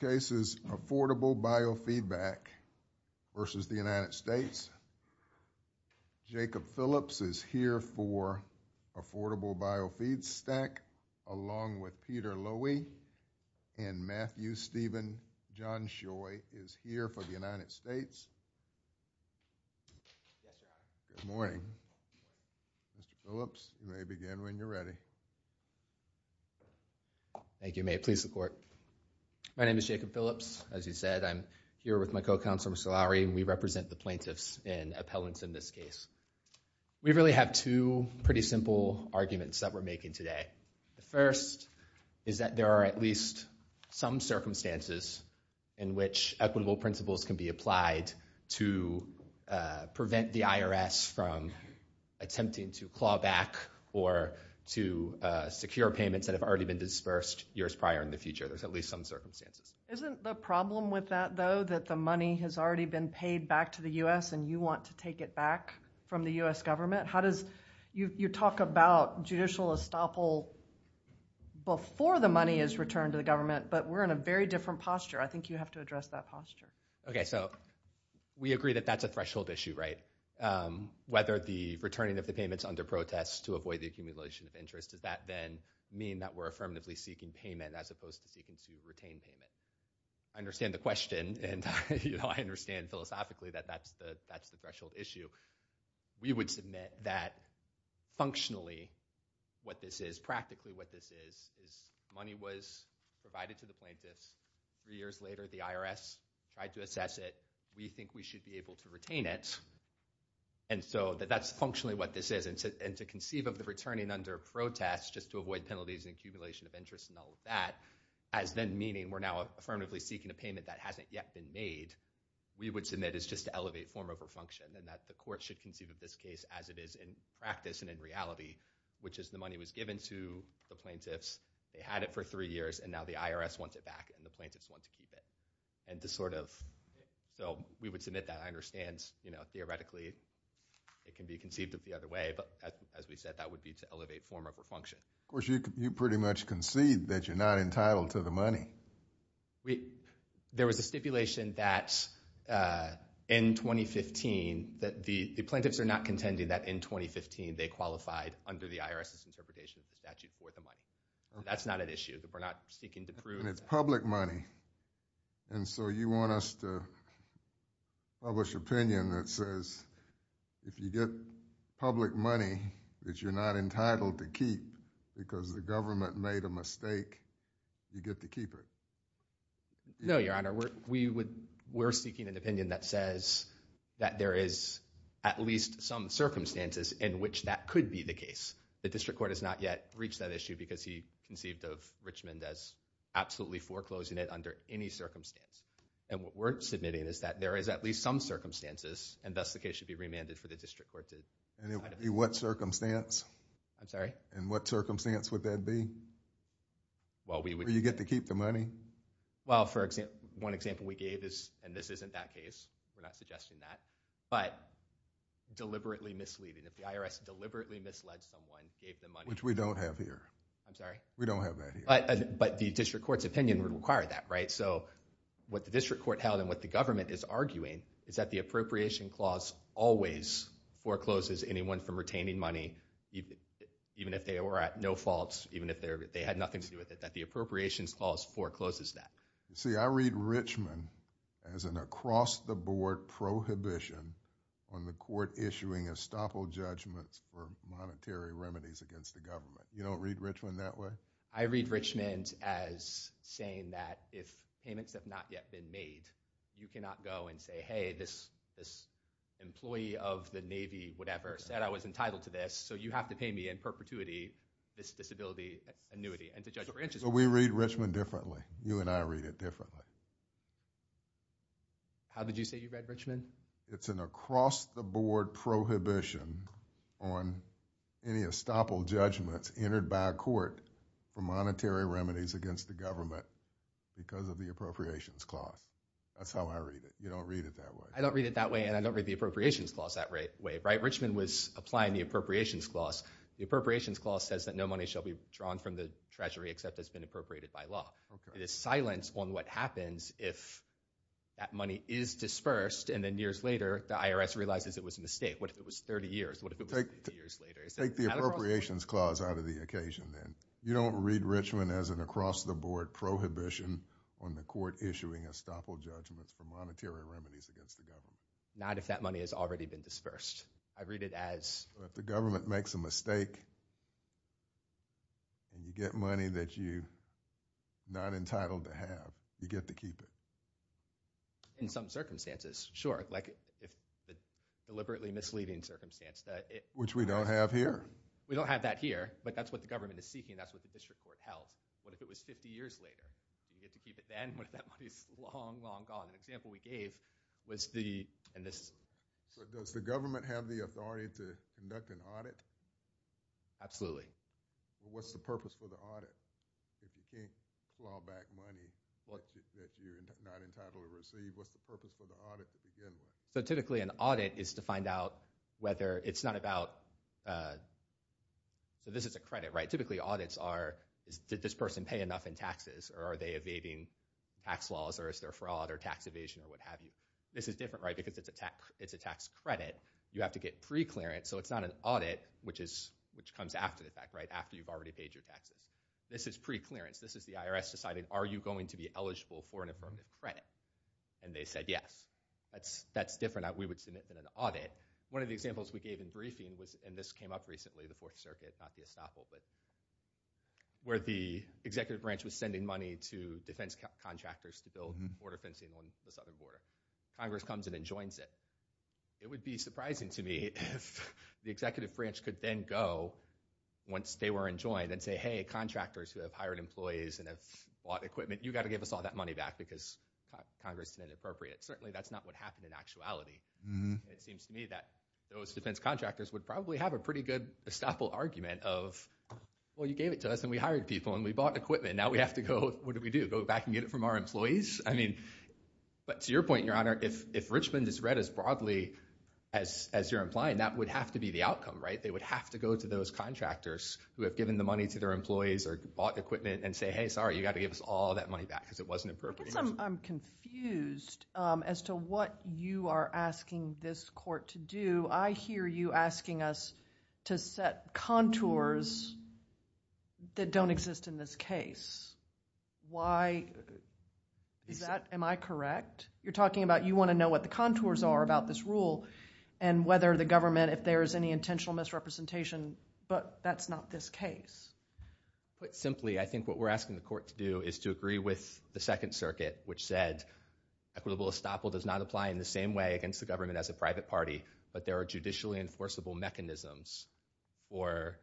Jacob Phillips is here for Affordable Bio Feedstock, along with Peter Loewy, and Matthew Steven Johnshoy is here for the United States. Good morning. Mr. Phillips, you may begin when you're ready. Thank you, May. Please support. My name is Jacob Phillips. As you said, I'm here with my co-counsel, Mr. Lowery, and we represent the plaintiffs in appellants in this case. We really have two pretty simple arguments that we're making today. The first is that there are at least some circumstances in which equitable principles can be applied to prevent the IRS from attempting to claw back or to secure payments that have already been disbursed years prior in the future. There's at least some circumstances. Isn't the problem with that, though, that the money has already been paid back to the U.S. and is returned to the government, but we're in a very different posture? I think you have to address that posture. Okay, so we agree that that's a threshold issue, right? Whether the returning of the payments under protest to avoid the accumulation of interest, does that then mean that we're affirmatively seeking payment as opposed to seeking to retain payment? I understand the question, and I understand philosophically that that's the threshold issue. We would submit that functionally what this is, practically what this is, is money was provided to the plaintiffs. Three years later, the IRS tried to assess it. We think we should be able to retain it. And so that that's functionally what this is. And to conceive of the returning under protest just to avoid penalties and accumulation of interest and all of that as then meaning we're now affirmatively seeking a payment that hasn't yet been made, we would submit it's just to elevate form over function and that the court should conceive of this case as it is in practice and in reality, which is the money was given to the plaintiffs. They had it for three years, and now the IRS wants it back, and the plaintiffs want to keep it. And to sort of, so we would submit that. I understand, you know, theoretically it can be conceived of the other way, but as we said, that would be to elevate form over function. Of course, you pretty much concede that you're not entitled to the money. We, there was a stipulation that in 2015, that the plaintiffs are not contending that in 2015, they qualified under the IRS's interpretation of the statute for the money. That's not an issue that we're not seeking to prove. And it's public money. And so you want us to publish opinion that says if you get public money that you're not entitled to keep because the government made a mistake, you get to keep the money. No, Your Honor. We would, we're seeking an opinion that says that there is at least some circumstances in which that could be the case. The district court has not yet reached that issue because he conceived of Richmond as absolutely foreclosing it under any circumstance. And what we're submitting is that there is at least some circumstances, and thus the case should be remanded for the district court to. And it would be what circumstance? I'm sorry? In what circumstance would that be? Well, we would. So you get to keep the money? Well, for example, one example we gave is, and this isn't that case, we're not suggesting that, but deliberately misleading. If the IRS deliberately misled someone, gave them money. Which we don't have here. I'm sorry? We don't have that here. But the district court's opinion would require that, right? So what the district court held and what the government is arguing is that the appropriation clause always forecloses anyone from retaining money, even if they were at no faults, even if they had nothing to do with it, that the appropriation clause forecloses that. See, I read Richmond as an across-the-board prohibition on the court issuing estoppel judgments for monetary remedies against the government. You don't read Richmond that way? I read Richmond as saying that if payments have not yet been made, you cannot go and say, hey, this employee of the Navy, whatever, said I was entitled to this, so you have to pay me in perpetuity, this disability annuity, and to judge over interest. So we read Richmond differently. You and I read it differently. How did you say you read Richmond? It's an across-the-board prohibition on any estoppel judgments entered by a court for monetary remedies against the government because of the appropriations clause. That's how I read it. You don't read it that way. I don't read it that way, and I don't read the appropriations clause that way, right? I read the appropriations clause. The appropriations clause says that no money shall be drawn from the treasury except it's been appropriated by law. It is silence on what happens if that money is dispersed, and then years later, the IRS realizes it was a mistake. What if it was 30 years? What if it was 50 years later? Take the appropriations clause out of the occasion, then. You don't read Richmond as an across-the-board prohibition on the court issuing estoppel judgments for monetary remedies against the government? Not if that money has already been dispersed. I read it as... If the government makes a mistake, and you get money that you're not entitled to have, you get to keep it. In some circumstances, sure. Like, if the deliberately misleading circumstance that it... Which we don't have here. We don't have that here, but that's what the government is seeking. That's what the district court held. What if it was 50 years later? You get to keep it then. What if that money is long, long gone? An example we gave was the... Does the government have the authority to conduct an audit? Absolutely. What's the purpose for the audit? If you can't claw back money that you're not entitled to receive, what's the purpose for the audit to begin with? Typically, an audit is to find out whether it's not about... This is a credit, right? Typically, audits are, did this person pay enough in taxes, or are they evading tax laws, or is there fraud, or tax evasion, or what have you? This is different, right, because it's a tax credit. You have to get pre-clearance, so it's not an audit, which comes after the fact, right, after you've already paid your taxes. This is pre-clearance. This is the IRS deciding, are you going to be eligible for an affirmative credit? And they said yes. That's different. We would submit an audit. One of the examples we gave in briefing was, and this came up recently, the Fourth Circuit, not the estoppel, but... Border fencing on the southern border. Congress comes in and joins it. It would be surprising to me if the executive branch could then go, once they were enjoined, and say, hey, contractors who have hired employees and have bought equipment, you've got to give us all that money back, because Congress is inappropriate. Certainly, that's not what happened in actuality. It seems to me that those defense contractors would probably have a pretty good estoppel argument of, well, you gave it to us, and we hired people, and we bought equipment. Now we have to go, what do we do, go back and get it from our employees? I mean, but to your point, Your Honor, if Richmond is read as broadly as you're implying, that would have to be the outcome, right? They would have to go to those contractors who have given the money to their employees or bought equipment and say, hey, sorry, you've got to give us all that money back, because it wasn't appropriate. I guess I'm confused as to what you are asking this court to do. I hear you asking us to set contours that don't exist in this case. Why is that? Am I correct? You're talking about you want to know what the contours are about this rule and whether the government, if there is any intentional misrepresentation, but that's not this case. Put simply, I think what we're asking the court to do is to agree with the Second Circuit, which said equitable estoppel does not apply in the same way against the government as a private party, but there are judicially enforceable mechanisms for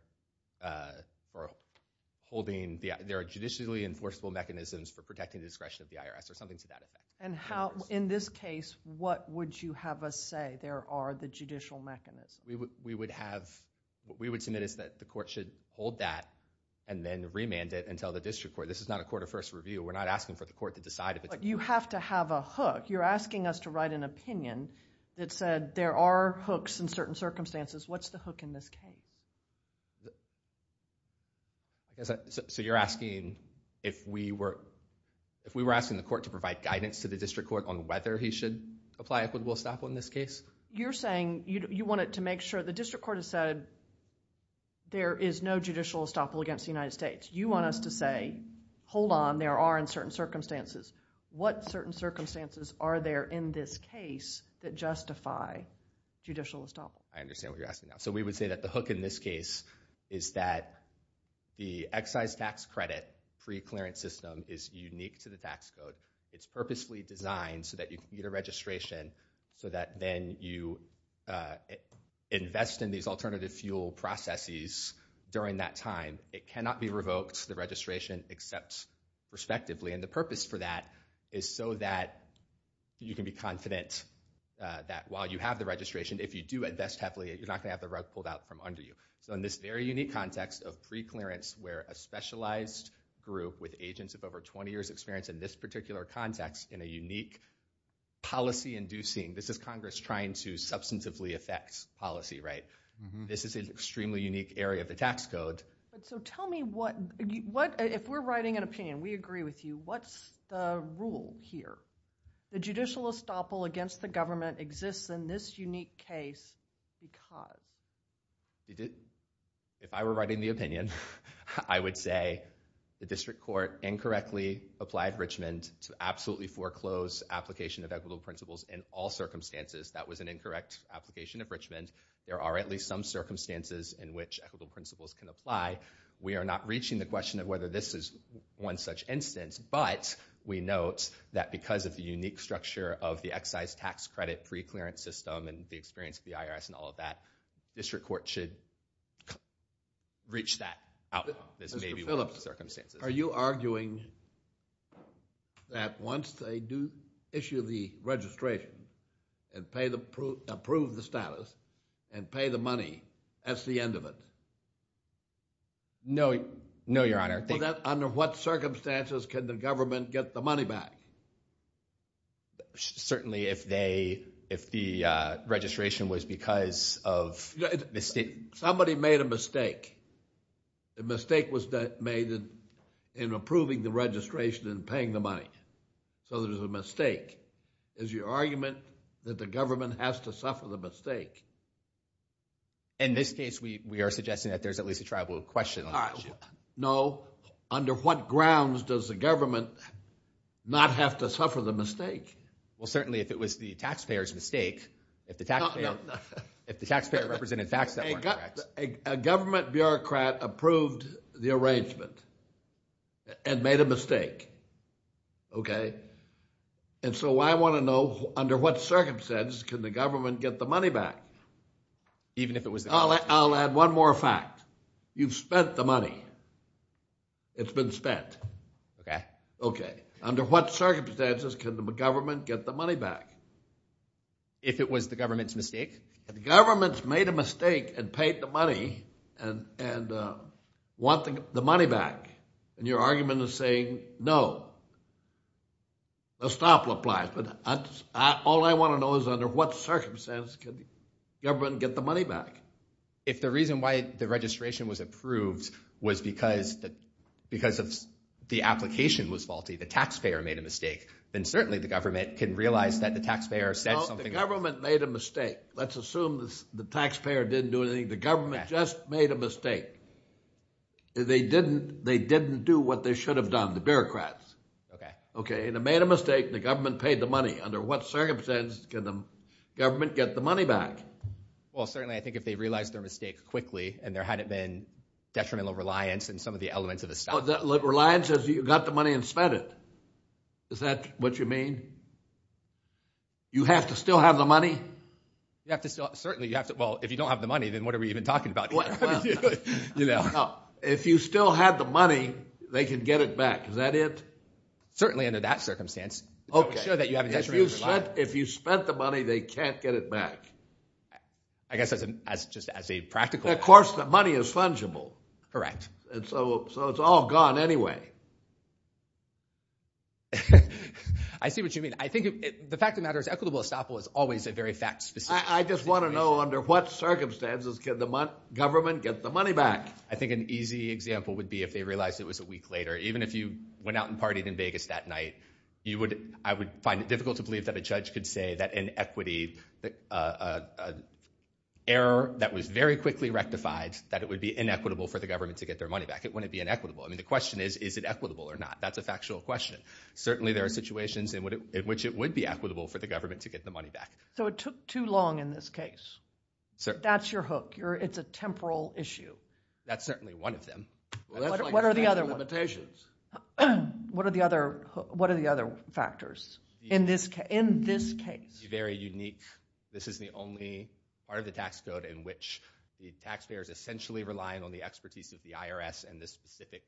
protecting the discretion of the IRS or something to that effect. And how, in this case, what would you have us say there are the judicial mechanisms? We would have, what we would submit is that the court should hold that and then remand it until the district court. This is not a court of first review. We're not asking for the court to decide if it's... But you have to have a hook. You're asking us to write an opinion that said there are hooks in certain circumstances. What's the hook in this case? So you're asking if we were asking the court to provide guidance to the district court on whether he should apply equitable estoppel in this case? You're saying you want to make sure the district court has said there is no judicial estoppel against the United States. You want us to say, hold on, there are in certain circumstances. What certain circumstances are there in this case that justify judicial estoppel? I understand what you're asking now. So we would say that the hook in this case is that the excise tax credit preclearance system is unique to the tax code. It's purposely designed so that you can get a registration so that then you invest in these alternative fuel processes during that time. It cannot be revoked, the registration, except respectively. And the purpose for that is so that you can be confident that while you have the registration, if you do invest heavily, you're not going to have the rug pulled out from under you. So in this very unique context of preclearance where a specialized group with agents of over 20 years experience in this particular context in a unique policy-inducing, this is Congress trying to substantively affect policy, right? This is an extremely unique area of the tax code. So tell me what, if we're writing an opinion, we agree with you, what's the rule here? The judicial estoppel against the government exists in this unique case because? If I were writing the opinion, I would say the district court incorrectly applied Richmond to absolutely foreclose application of equitable principles in all circumstances. That was an incorrect application of Richmond. There are at least some circumstances in which equitable principles can apply. We are not reaching the question of whether this is one such instance, but we note that because of the unique structure of the excise tax credit preclearance system and the experience of the IRS and all of that, district court should reach that outcome. This may be one of the circumstances. Are you arguing that once they do issue the registration and approve the status and pay the money, that's the end of it? No, your honor. Under what circumstances can the government get the money back? Certainly if the registration was because of mistake. Somebody made a mistake. A mistake was made in approving the registration and paying the money. So there's a mistake. Is your argument that the government has to suffer the mistake? In this case, we are suggesting that there's at least a tribal question. No. Under what grounds does the government not have to suffer the mistake? Well, certainly if it was the taxpayer's mistake, if the taxpayer represented facts that were correct. A government bureaucrat approved the arrangement and made a mistake, okay? And so I want to know under what circumstances can the government get the money back? I'll add one more fact. You've spent the money. It's been spent. Okay. Okay. Under what circumstances can the government get the money back? If it was the government's mistake. If the government's made a mistake and paid the money and want the money back, and your argument is saying no, a stop will apply. But all I want to know is under what circumstances can the government get the money back? If the reason why the registration was approved was because of the application was faulty, the taxpayer made a mistake, then certainly the government can realize that the taxpayer said something. The government made a mistake. Let's assume the taxpayer didn't do anything. The government just made a mistake. They didn't do what they should have done, the bureaucrats. Okay. Okay, and they made a mistake and the government paid the money. Under what circumstances can the government get the money back? Well, certainly I think if they realized their mistake quickly and there hadn't been detrimental reliance in some of the elements of the statute. Reliance is you got the money and spent it. Is that what you mean? You have to still have the money? Certainly, you have to. Well, if you don't have the money, then what are we even talking about here? If you still have the money, they can get it back. Is that it? Certainly under that circumstance. Okay. If you spent the money, they can't get it back. I guess just as a practical. Of course, the money is fungible. Correct. So it's all gone anyway. I see what you mean. I think the fact of the matter is equitable estoppel is always a very fact specific situation. I just want to know under what circumstances can the government get the money back? I think an easy example would be if they realized it was a week later. Even if you went out and partied in Vegas that night, I would find it difficult to believe that a judge could say that an equity error that was very quickly rectified, that it would be inequitable for the government to get their money back. It wouldn't be inequitable. I mean the question is, is it equitable or not? That's a factual question. Certainly there are situations in which it would be equitable for the government to get the money back. So it took too long in this case. That's your hook. It's a temporal issue. That's certainly one of them. What are the other ones? What are the other factors in this case? Very unique. This is the only part of the tax code in which the taxpayer is essentially relying on the expertise of the IRS and the specific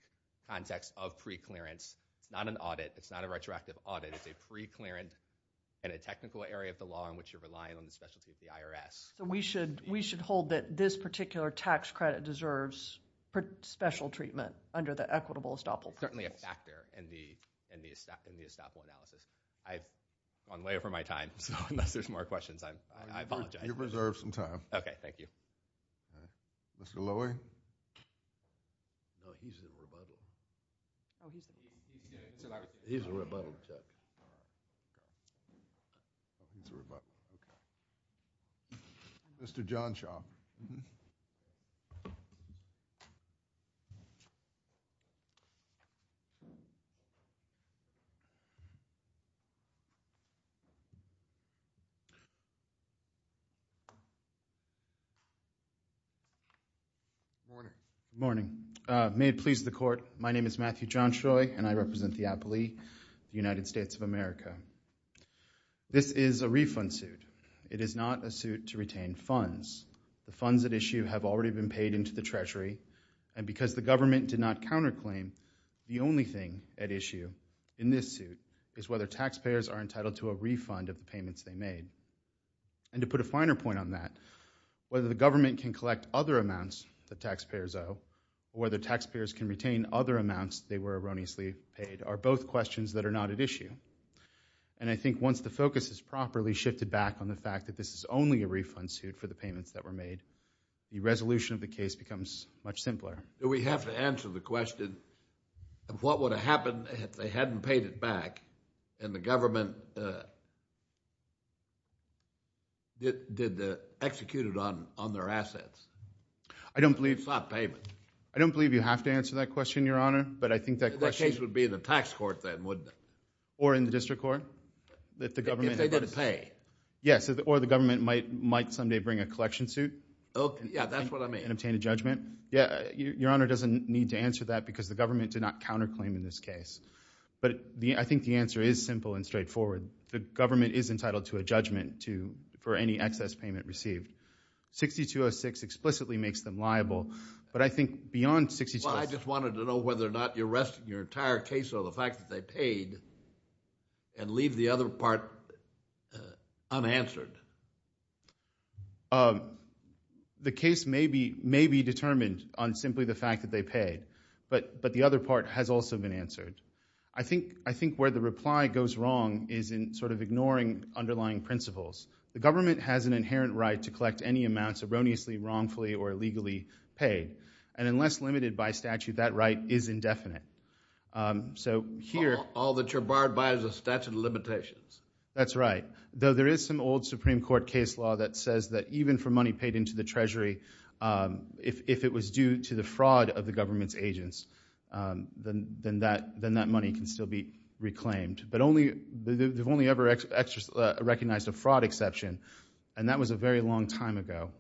context of preclearance. It's not an audit. It's not a retroactive audit. It's a preclearance in a technical area of the law in which you're relying on the expertise of the IRS. So we should hold that this particular tax credit deserves special treatment under the equitable estoppel process. Certainly a factor in the estoppel analysis. I've gone way over my time, so unless there's more questions, I apologize. You've reserved some time. Okay, thank you. Mr. Loewy. No, he's the rebuttal. Oh, he's the rebuttal. He's the rebuttal, Chuck. All right. He's the rebuttal. Okay. Mr. Johnshaw. Good morning. May it please the court, my name is Matthew Johnshaw, and I represent the appellee of the United States of America. This is a refund suit. It is not a suit to retain funds. The funds at issue have already been paid into the Treasury, and because the government did not counterclaim, the only thing at issue in this suit is whether taxpayers are entitled to a refund of the payments they made. And to put a finer point on that, whether the government can collect other amounts that taxpayers owe or whether taxpayers can retain other amounts they were erroneously paid are both questions that are not at issue. And I think once the focus is properly shifted back on the fact that this is only a refund suit for the payments that were made, the resolution of the case becomes much simpler. Do we have to answer the question of what would have happened if they hadn't paid it back and the government executed on their assets? I don't believe... It's not payment. I don't believe you have to answer that question, Your Honor, but I think that question... Or in the district court, that the government... If they didn't pay. Yes, or the government might someday bring a collection suit... Yeah, that's what I mean. And obtain a judgment. Yeah, Your Honor doesn't need to answer that because the government did not counterclaim in this case. But I think the answer is simple and straightforward. The government is entitled to a judgment for any excess payment received. 6206 explicitly makes them liable, but I think beyond 6206... And leave the other part unanswered. The case may be determined on simply the fact that they paid, but the other part has also been answered. I think where the reply goes wrong is in sort of ignoring underlying principles. The government has an inherent right to collect any amounts erroneously, wrongfully, or illegally paid, and unless limited by statute, that right is indefinite. So here... All that you're barred by is a statute of limitations. That's right. Though there is some old Supreme Court case law that says that even for money paid into the Treasury, if it was due to the fraud of the government's agents, then that money can still be reclaimed. But they've only ever recognized a fraud exception, and that was a very long time ago,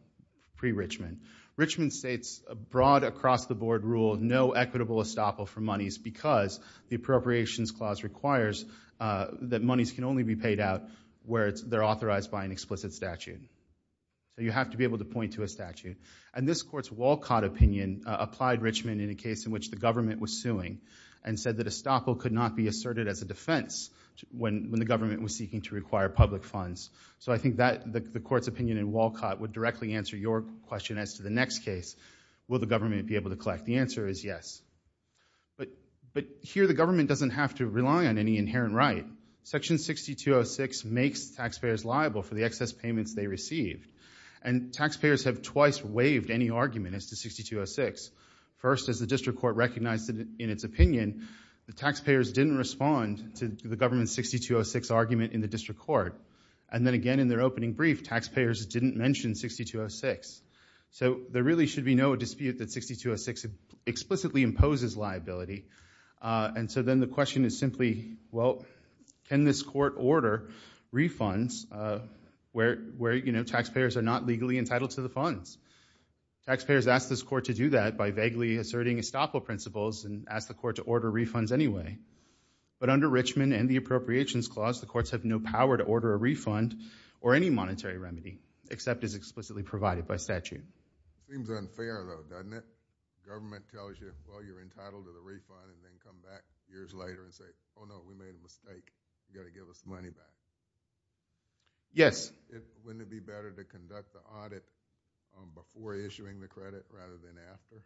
pre-Richmond. Richmond states broad, across-the-board rule, no equitable estoppel for monies because the Appropriations Clause requires that monies can only be paid out where they're authorized by an explicit statute. So you have to be able to point to a statute. And this Court's Walcott opinion applied Richmond in a case in which the government was suing and said that estoppel could not be asserted as a defense when the government was seeking to require public funds. So I think the Court's opinion in Walcott would directly answer your question as to the next case. Will the government be able to collect? The answer is yes. But here the government doesn't have to rely on any inherent right. Section 6206 makes taxpayers liable for the excess payments they receive. And taxpayers have twice waived any argument as to 6206. First, as the District Court recognized in its opinion, the taxpayers didn't respond to the government's 6206 argument in the District Court. And then again in their opening brief, taxpayers didn't mention 6206. So there really should be no dispute that 6206 explicitly imposes liability. And so then the question is simply, well, can this Court order refunds where, you know, taxpayers are not legally entitled to the funds? Taxpayers asked this Court to do that by vaguely asserting estoppel principles and asked the Court to order refunds anyway. But under Richmond and the Appropriations Clause, the Courts have no power to order a refund or any monetary remedy except as explicitly provided by statute. Seems unfair, though, doesn't it? Government tells you, well, you're entitled to the refund and then come back years later and say, oh, no, we made a mistake. You've got to give us the money back. Yes. Wouldn't it be better to conduct the audit before issuing the credit rather than after?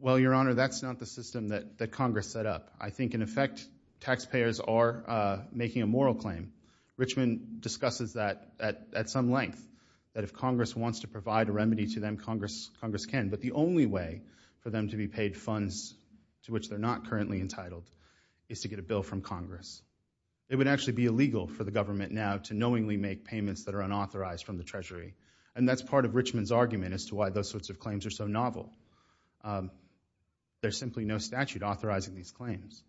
Well, Your Honor, that's not the system that Congress set up. I think, in effect, taxpayers are making a moral claim. Richmond discusses that at some length, that if Congress wants to provide a remedy to them, Congress can. But the only way for them to be paid funds to which they're not currently entitled is to get a bill from Congress. It would actually be illegal for the government now to knowingly make payments that are unauthorized from the Treasury. And that's part of Richmond's argument as to why those sorts of claims are so novel. There's simply no statute authorizing these claims.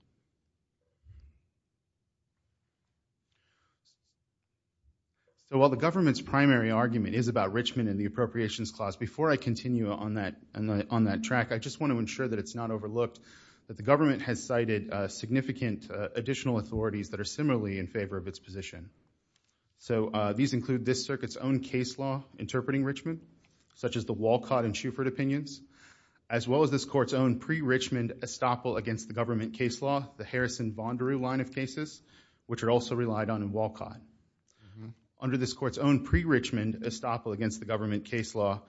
So while the government's primary argument is about Richmond and the Appropriations Clause, before I continue on that track, I just want to ensure that it's not overlooked that the government has cited significant additional authorities that are similarly in favor of its position. So these include this Circuit's own case law interpreting Richmond, such as the Walcott and Shuford opinions, as well as this Court's own pre-Richmond estoppel against the government case law, the Harrison-Vanderoo line of cases, which are also relied on in Walcott. Under this Court's own pre-Richmond estoppel against the government case law,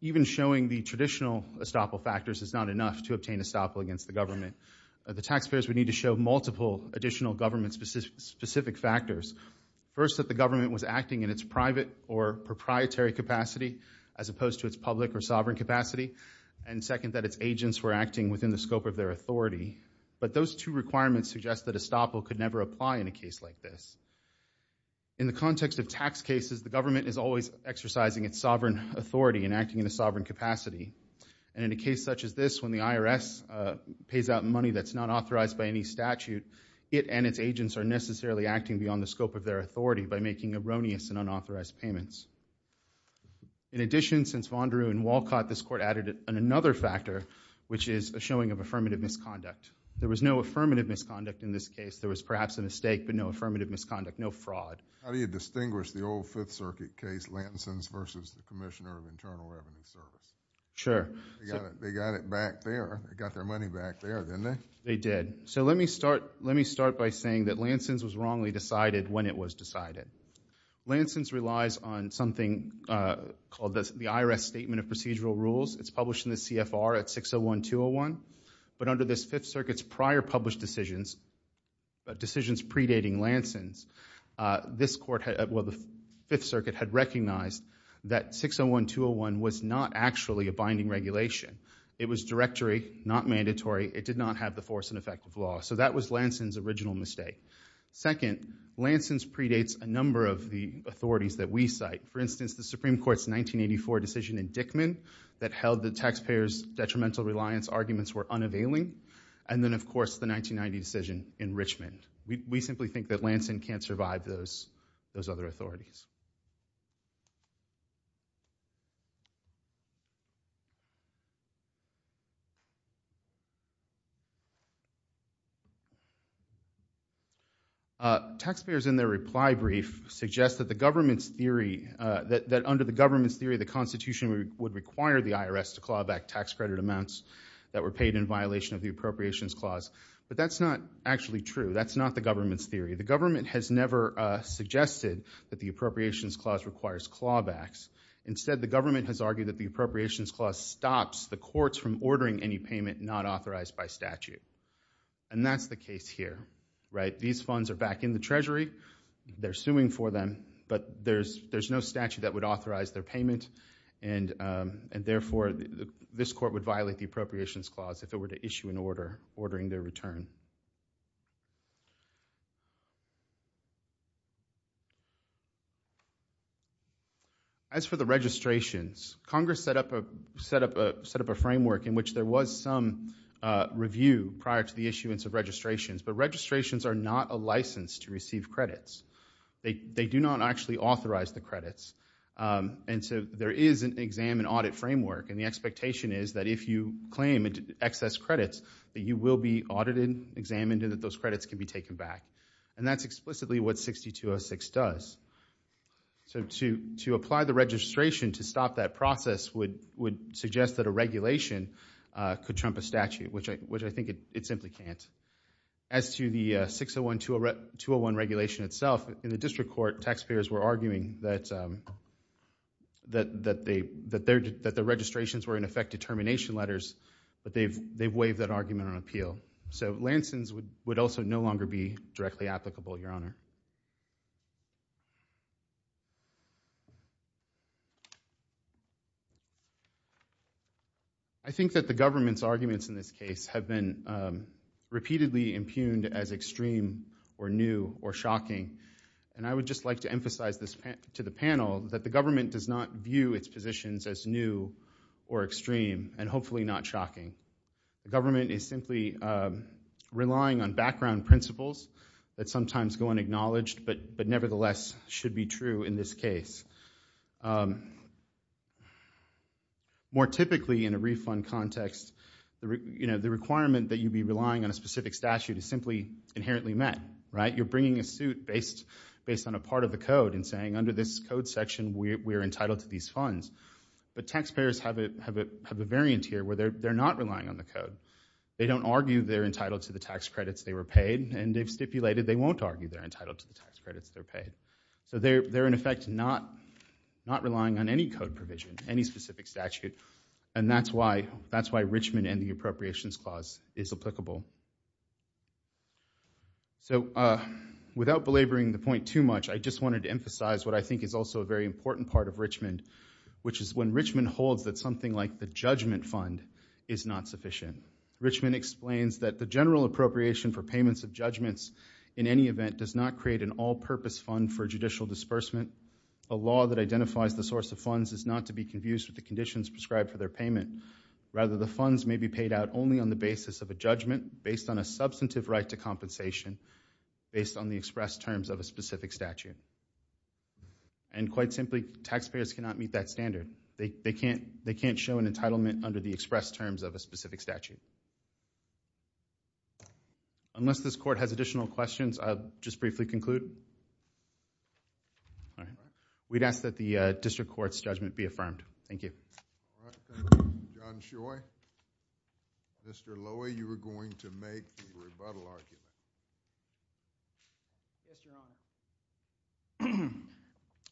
even showing the traditional estoppel factors is not enough to obtain estoppel against the government. The taxpayers would need to show multiple additional government-specific factors. First, that the government was acting in its private or proprietary capacity as opposed to its public or sovereign capacity. And second, that its agents were acting within the scope of their authority. But those two requirements suggest that estoppel could never apply in a case like this. In the context of tax cases, the government is always exercising its sovereign authority and acting in a sovereign capacity. And in a case such as this, when the IRS pays out money that's not authorized by any statute, it and its agents are necessarily acting beyond the scope of their authority by making erroneous and unauthorized payments. In addition, since Vanderoo and Walcott, this Court added another factor, which is a showing of affirmative misconduct. There was no affirmative misconduct in this case. There was perhaps a mistake, but no affirmative misconduct, no fraud. How do you distinguish the old Fifth Circuit case, Lansing's versus the Commissioner of Internal Revenue Service? Sure. They got it back there. They got their money back there, didn't they? They did. So let me start by saying that Lansing's was wrongly decided when it was decided. Lansing's relies on something called the IRS Statement of Procedural Rules. It's published in the CFR at 601201. But under this Fifth Circuit's prior published decisions, decisions predating Lansing's, the Fifth Circuit had recognized that 601201 was not actually a binding regulation. It was directory, not mandatory. It did not have the force and effect of law. So that was Lansing's original mistake. Second, Lansing's predates a number of the authorities that we cite. For instance, the Supreme Court's 1984 decision in Dickman that held the taxpayers' detrimental reliance arguments were unavailing. And then, of course, the 1990 decision in Richmond. We simply think that Lansing can't survive those other authorities. Taxpayers, in their reply brief, suggest that under the government's theory, the Constitution would require the IRS to claw back tax credit amounts that were paid in violation of the Appropriations Clause. But that's not actually true. That's not the government's theory. The government has never suggested that the Appropriations Clause requires clawbacks. Instead, the government has argued that the Appropriations Clause stops the courts from ordering any payment not authorized by statute. And that's the case here. These funds are back in the Treasury. They're suing for them. But there's no statute that would authorize their payment. And therefore, this court would violate the Appropriations Clause if it were to issue an order ordering their return. As for the registrations, Congress set up a framework in which there was some review prior to the issuance of registrations. But registrations are not a license to receive credits. They do not actually authorize the credits. And so there is an exam and audit framework. And the expectation is that if you claim excess credits, that you will be audited, examined, and that those credits can be taken back. And that's explicitly what 6206 does. So to apply the registration to stop that process would suggest that a regulation could trump a statute, which I think it simply can't. As to the 601-201 regulation itself, in the district court, taxpayers were arguing that the registrations were, in effect, determination letters. But they've waived that argument on appeal. So Lansing's would also no longer be directly applicable, Your Honor. I think that the government's arguments in this case have been repeatedly impugned as extreme or new or shocking. And I would just like to emphasize to the panel that the government does not view its positions as new or extreme and hopefully not shocking. The government is simply relying on background principles that sometimes go unacknowledged but nevertheless should be true in this case. More typically in a refund context, the requirement that you be relying on a specific statute is simply inherently met, right? So you're bringing a suit based on a part of the code and saying, under this code section, we're entitled to these funds. But taxpayers have a variant here where they're not relying on the code. They don't argue they're entitled to the tax credits they were paid. And they've stipulated they won't argue they're entitled to the tax credits they're paid. So they're, in effect, not relying on any code provision, any specific statute. And that's why Richmond and the Appropriations Clause is applicable. So without belabouring the point too much, I just wanted to emphasize what I think is also a very important part of Richmond, which is when Richmond holds that something like the judgment fund is not sufficient. Richmond explains that the general appropriation for payments of judgments in any event does not create an all-purpose fund for judicial disbursement. A law that identifies the source of funds is not to be confused with the conditions prescribed for their payment. Rather, the funds may be paid out only on the basis of a judgment, based on a substantive right to compensation, based on the express terms of a specific statute. And quite simply, taxpayers cannot meet that standard. They can't show an entitlement under the express terms of a specific statute. Unless this court has additional questions, I'll just briefly conclude. We'd ask that the district court's judgment be affirmed. Thank you. All right, thank you. John Choi? Mr. Lowy, you were going to make the rebuttal argument. Yes, Your Honor.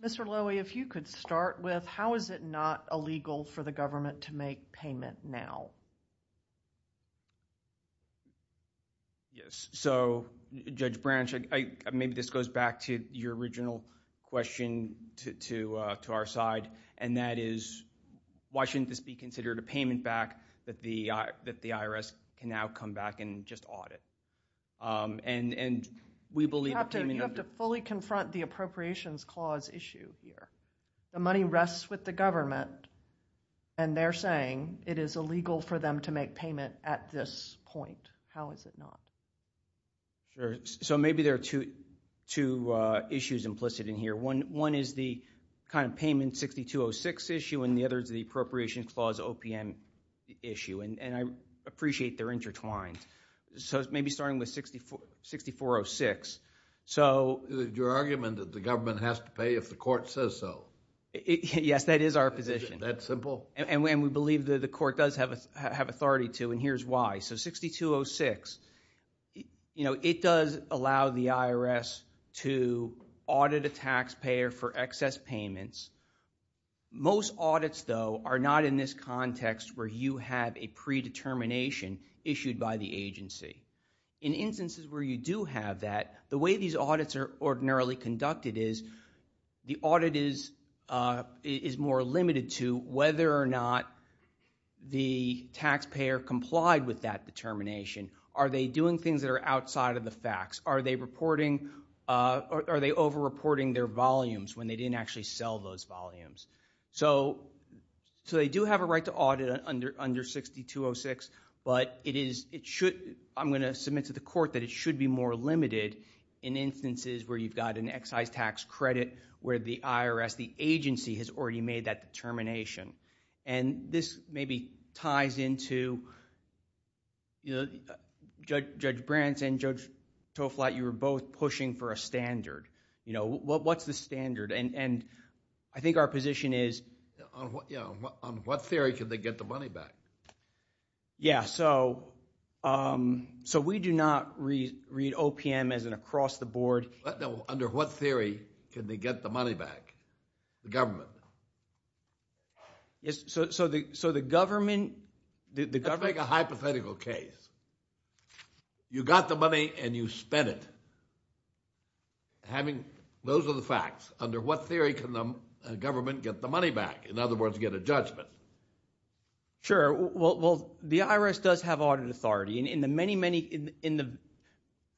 Mr. Lowy, if you could start with how is it not illegal for the government to make payment now? Yes. So, Judge Branch, maybe this goes back to your original question to our side, and that is, why shouldn't this be considered a payment back that the IRS can now come back and just audit? You have to fully confront the Appropriations Clause issue here. The money rests with the government, and they're saying it is illegal for them to make payment at this point. How is it not? So maybe there are two issues implicit in here. One is the kind of payment 6206 issue, and the other is the Appropriations Clause OPM issue, and I appreciate they're intertwined. So maybe starting with 6406. Your argument that the government has to pay if the court says so. Yes, that is our position. That simple? And we believe that the court does have authority to, and here's why. So 6206, you know, it does allow the IRS to audit a taxpayer for excess payments. Most audits, though, are not in this context where you have a predetermination issued by the agency. In instances where you do have that, the way these audits are ordinarily conducted is the audit is more limited to whether or not the taxpayer complied with that determination. Are they doing things that are outside of the facts? Are they over-reporting their volumes when they didn't actually sell those volumes? So they do have a right to audit under 6206, but I'm going to submit to the court that it should be more limited in instances where you've got an excise tax credit where the IRS, the agency, has already made that determination. And this maybe ties into Judge Brant and Judge Toflat, you were both pushing for a standard. You know, what's the standard? And I think our position is... On what theory can they get the money back? Yeah, so we do not read OPM as an across-the-board... Under what theory can they get the money back? The government. So the government... Let's make a hypothetical case. You got the money and you spent it. Those are the facts. Under what theory can the government get the money back? In other words, get a judgment. Sure. Well, the IRS does have audit authority. In the many, many...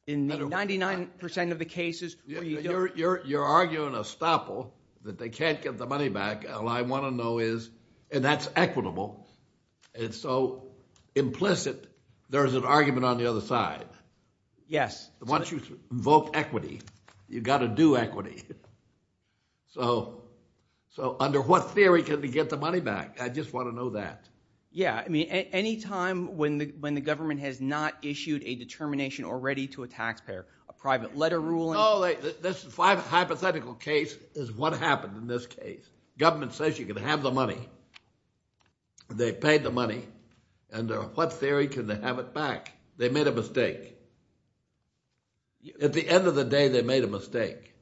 In 99% of the cases... You're arguing a staple that they can't get the money back. All I want to know is... And that's equitable. It's so implicit. There's an argument on the other side. Yes. Once you invoke equity, you've got to do equity. So under what theory can we get the money back? I just want to know that. Yeah, I mean, any time when the government has not issued a determination already to a taxpayer, a private letter ruling... No, this hypothetical case is what happened in this case. Government says you can have the money. They paid the money. Under what theory can they have it back? They made a mistake. At the end of the day, they made a mistake.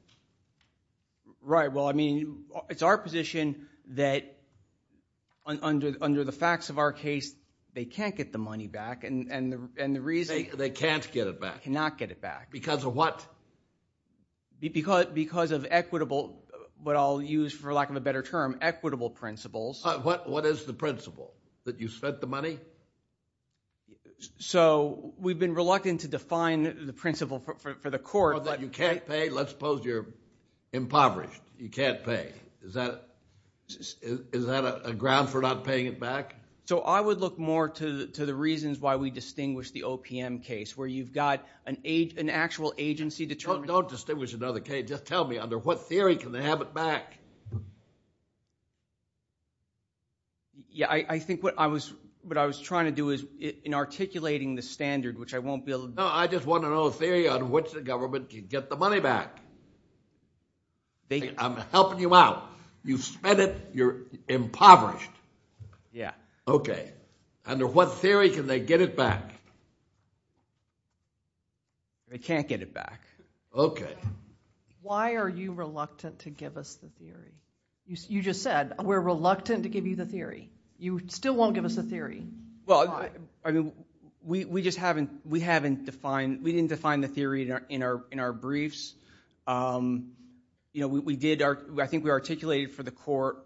Right, well, I mean, it's our position that under the facts of our case, they can't get the money back, and the reason... They can't get it back. Cannot get it back. Because of what? Because of equitable... But I'll use, for lack of a better term, equitable principles. What is the principle? That you spent the money? So we've been reluctant to define the principle for the court... That you can't pay? Let's suppose you're impoverished. You can't pay. Is that a ground for not paying it back? So I would look more to the reasons why we distinguish the OPM case, where you've got an actual agency determination... Don't distinguish another case. Just tell me, under what theory can they have it back? Yeah, I think what I was trying to do is in articulating the standard, which I won't be able to... No, I just want to know the theory on which the government can get the money back. I'm helping you out. You've spent it. You're impoverished. Yeah. Okay. Under what theory can they get it back? They can't get it back. Okay. Why are you reluctant to give us the theory? You just said, we're reluctant to give you the theory. You still won't give us the theory. Well, I mean, we just haven't... We haven't defined... We didn't define the theory in our briefs. You know, we did... I think we articulated for the court,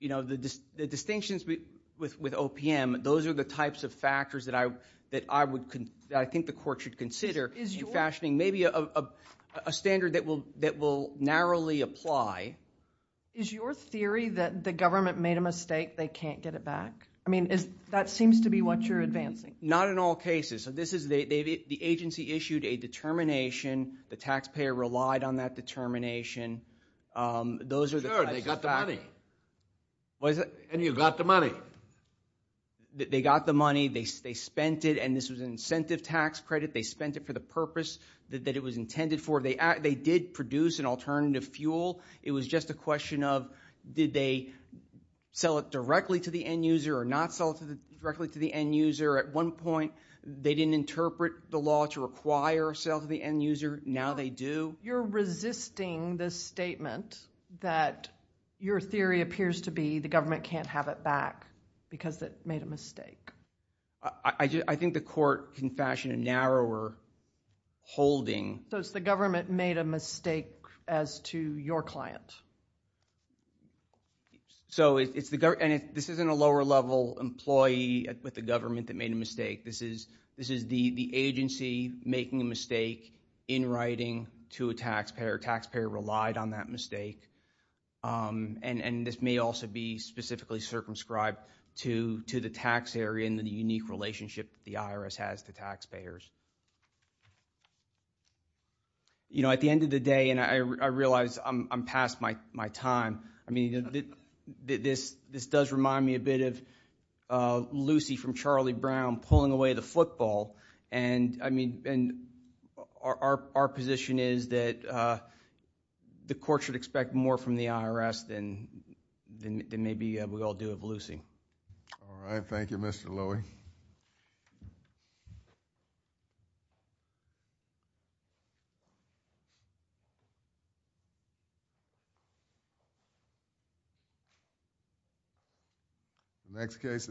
you know, the distinctions with OPM, those are the types of factors that I think the court should consider in fashioning maybe a standard that will narrowly apply Is your theory that the government made a mistake, they can't get it back? I mean, that seems to be what you're advancing. Not in all cases. So this is... The agency issued a determination. The taxpayer relied on that determination. Those are the types of factors. Sure, they got the money. What is that? And you got the money. They got the money. They spent it, and this was an incentive tax credit. They spent it for the purpose that it was intended for. They did produce an alternative fuel. It was just a question of, did they sell it directly to the end user or not sell it directly to the end user? At one point, they didn't interpret the law to require a sale to the end user. Now they do. You're resisting this statement that your theory appears to be the government can't have it back because it made a mistake. I think the court can fashion a narrower holding. So it's the government made a mistake as to your client. So this isn't a lower-level employee with the government that made a mistake. This is the agency making a mistake in writing to a taxpayer. Taxpayer relied on that mistake. And this may also be specifically circumscribed to the tax area and the unique relationship the IRS has to taxpayers. You know, at the end of the day, and I realize I'm past my time, I mean, this does remind me a bit of Lucy from Charlie Brown pulling away the football. And, I mean, our position is that the court should expect more from the IRS than maybe we all do of Lucy. All right, thank you, Mr. Lowy. Thank you.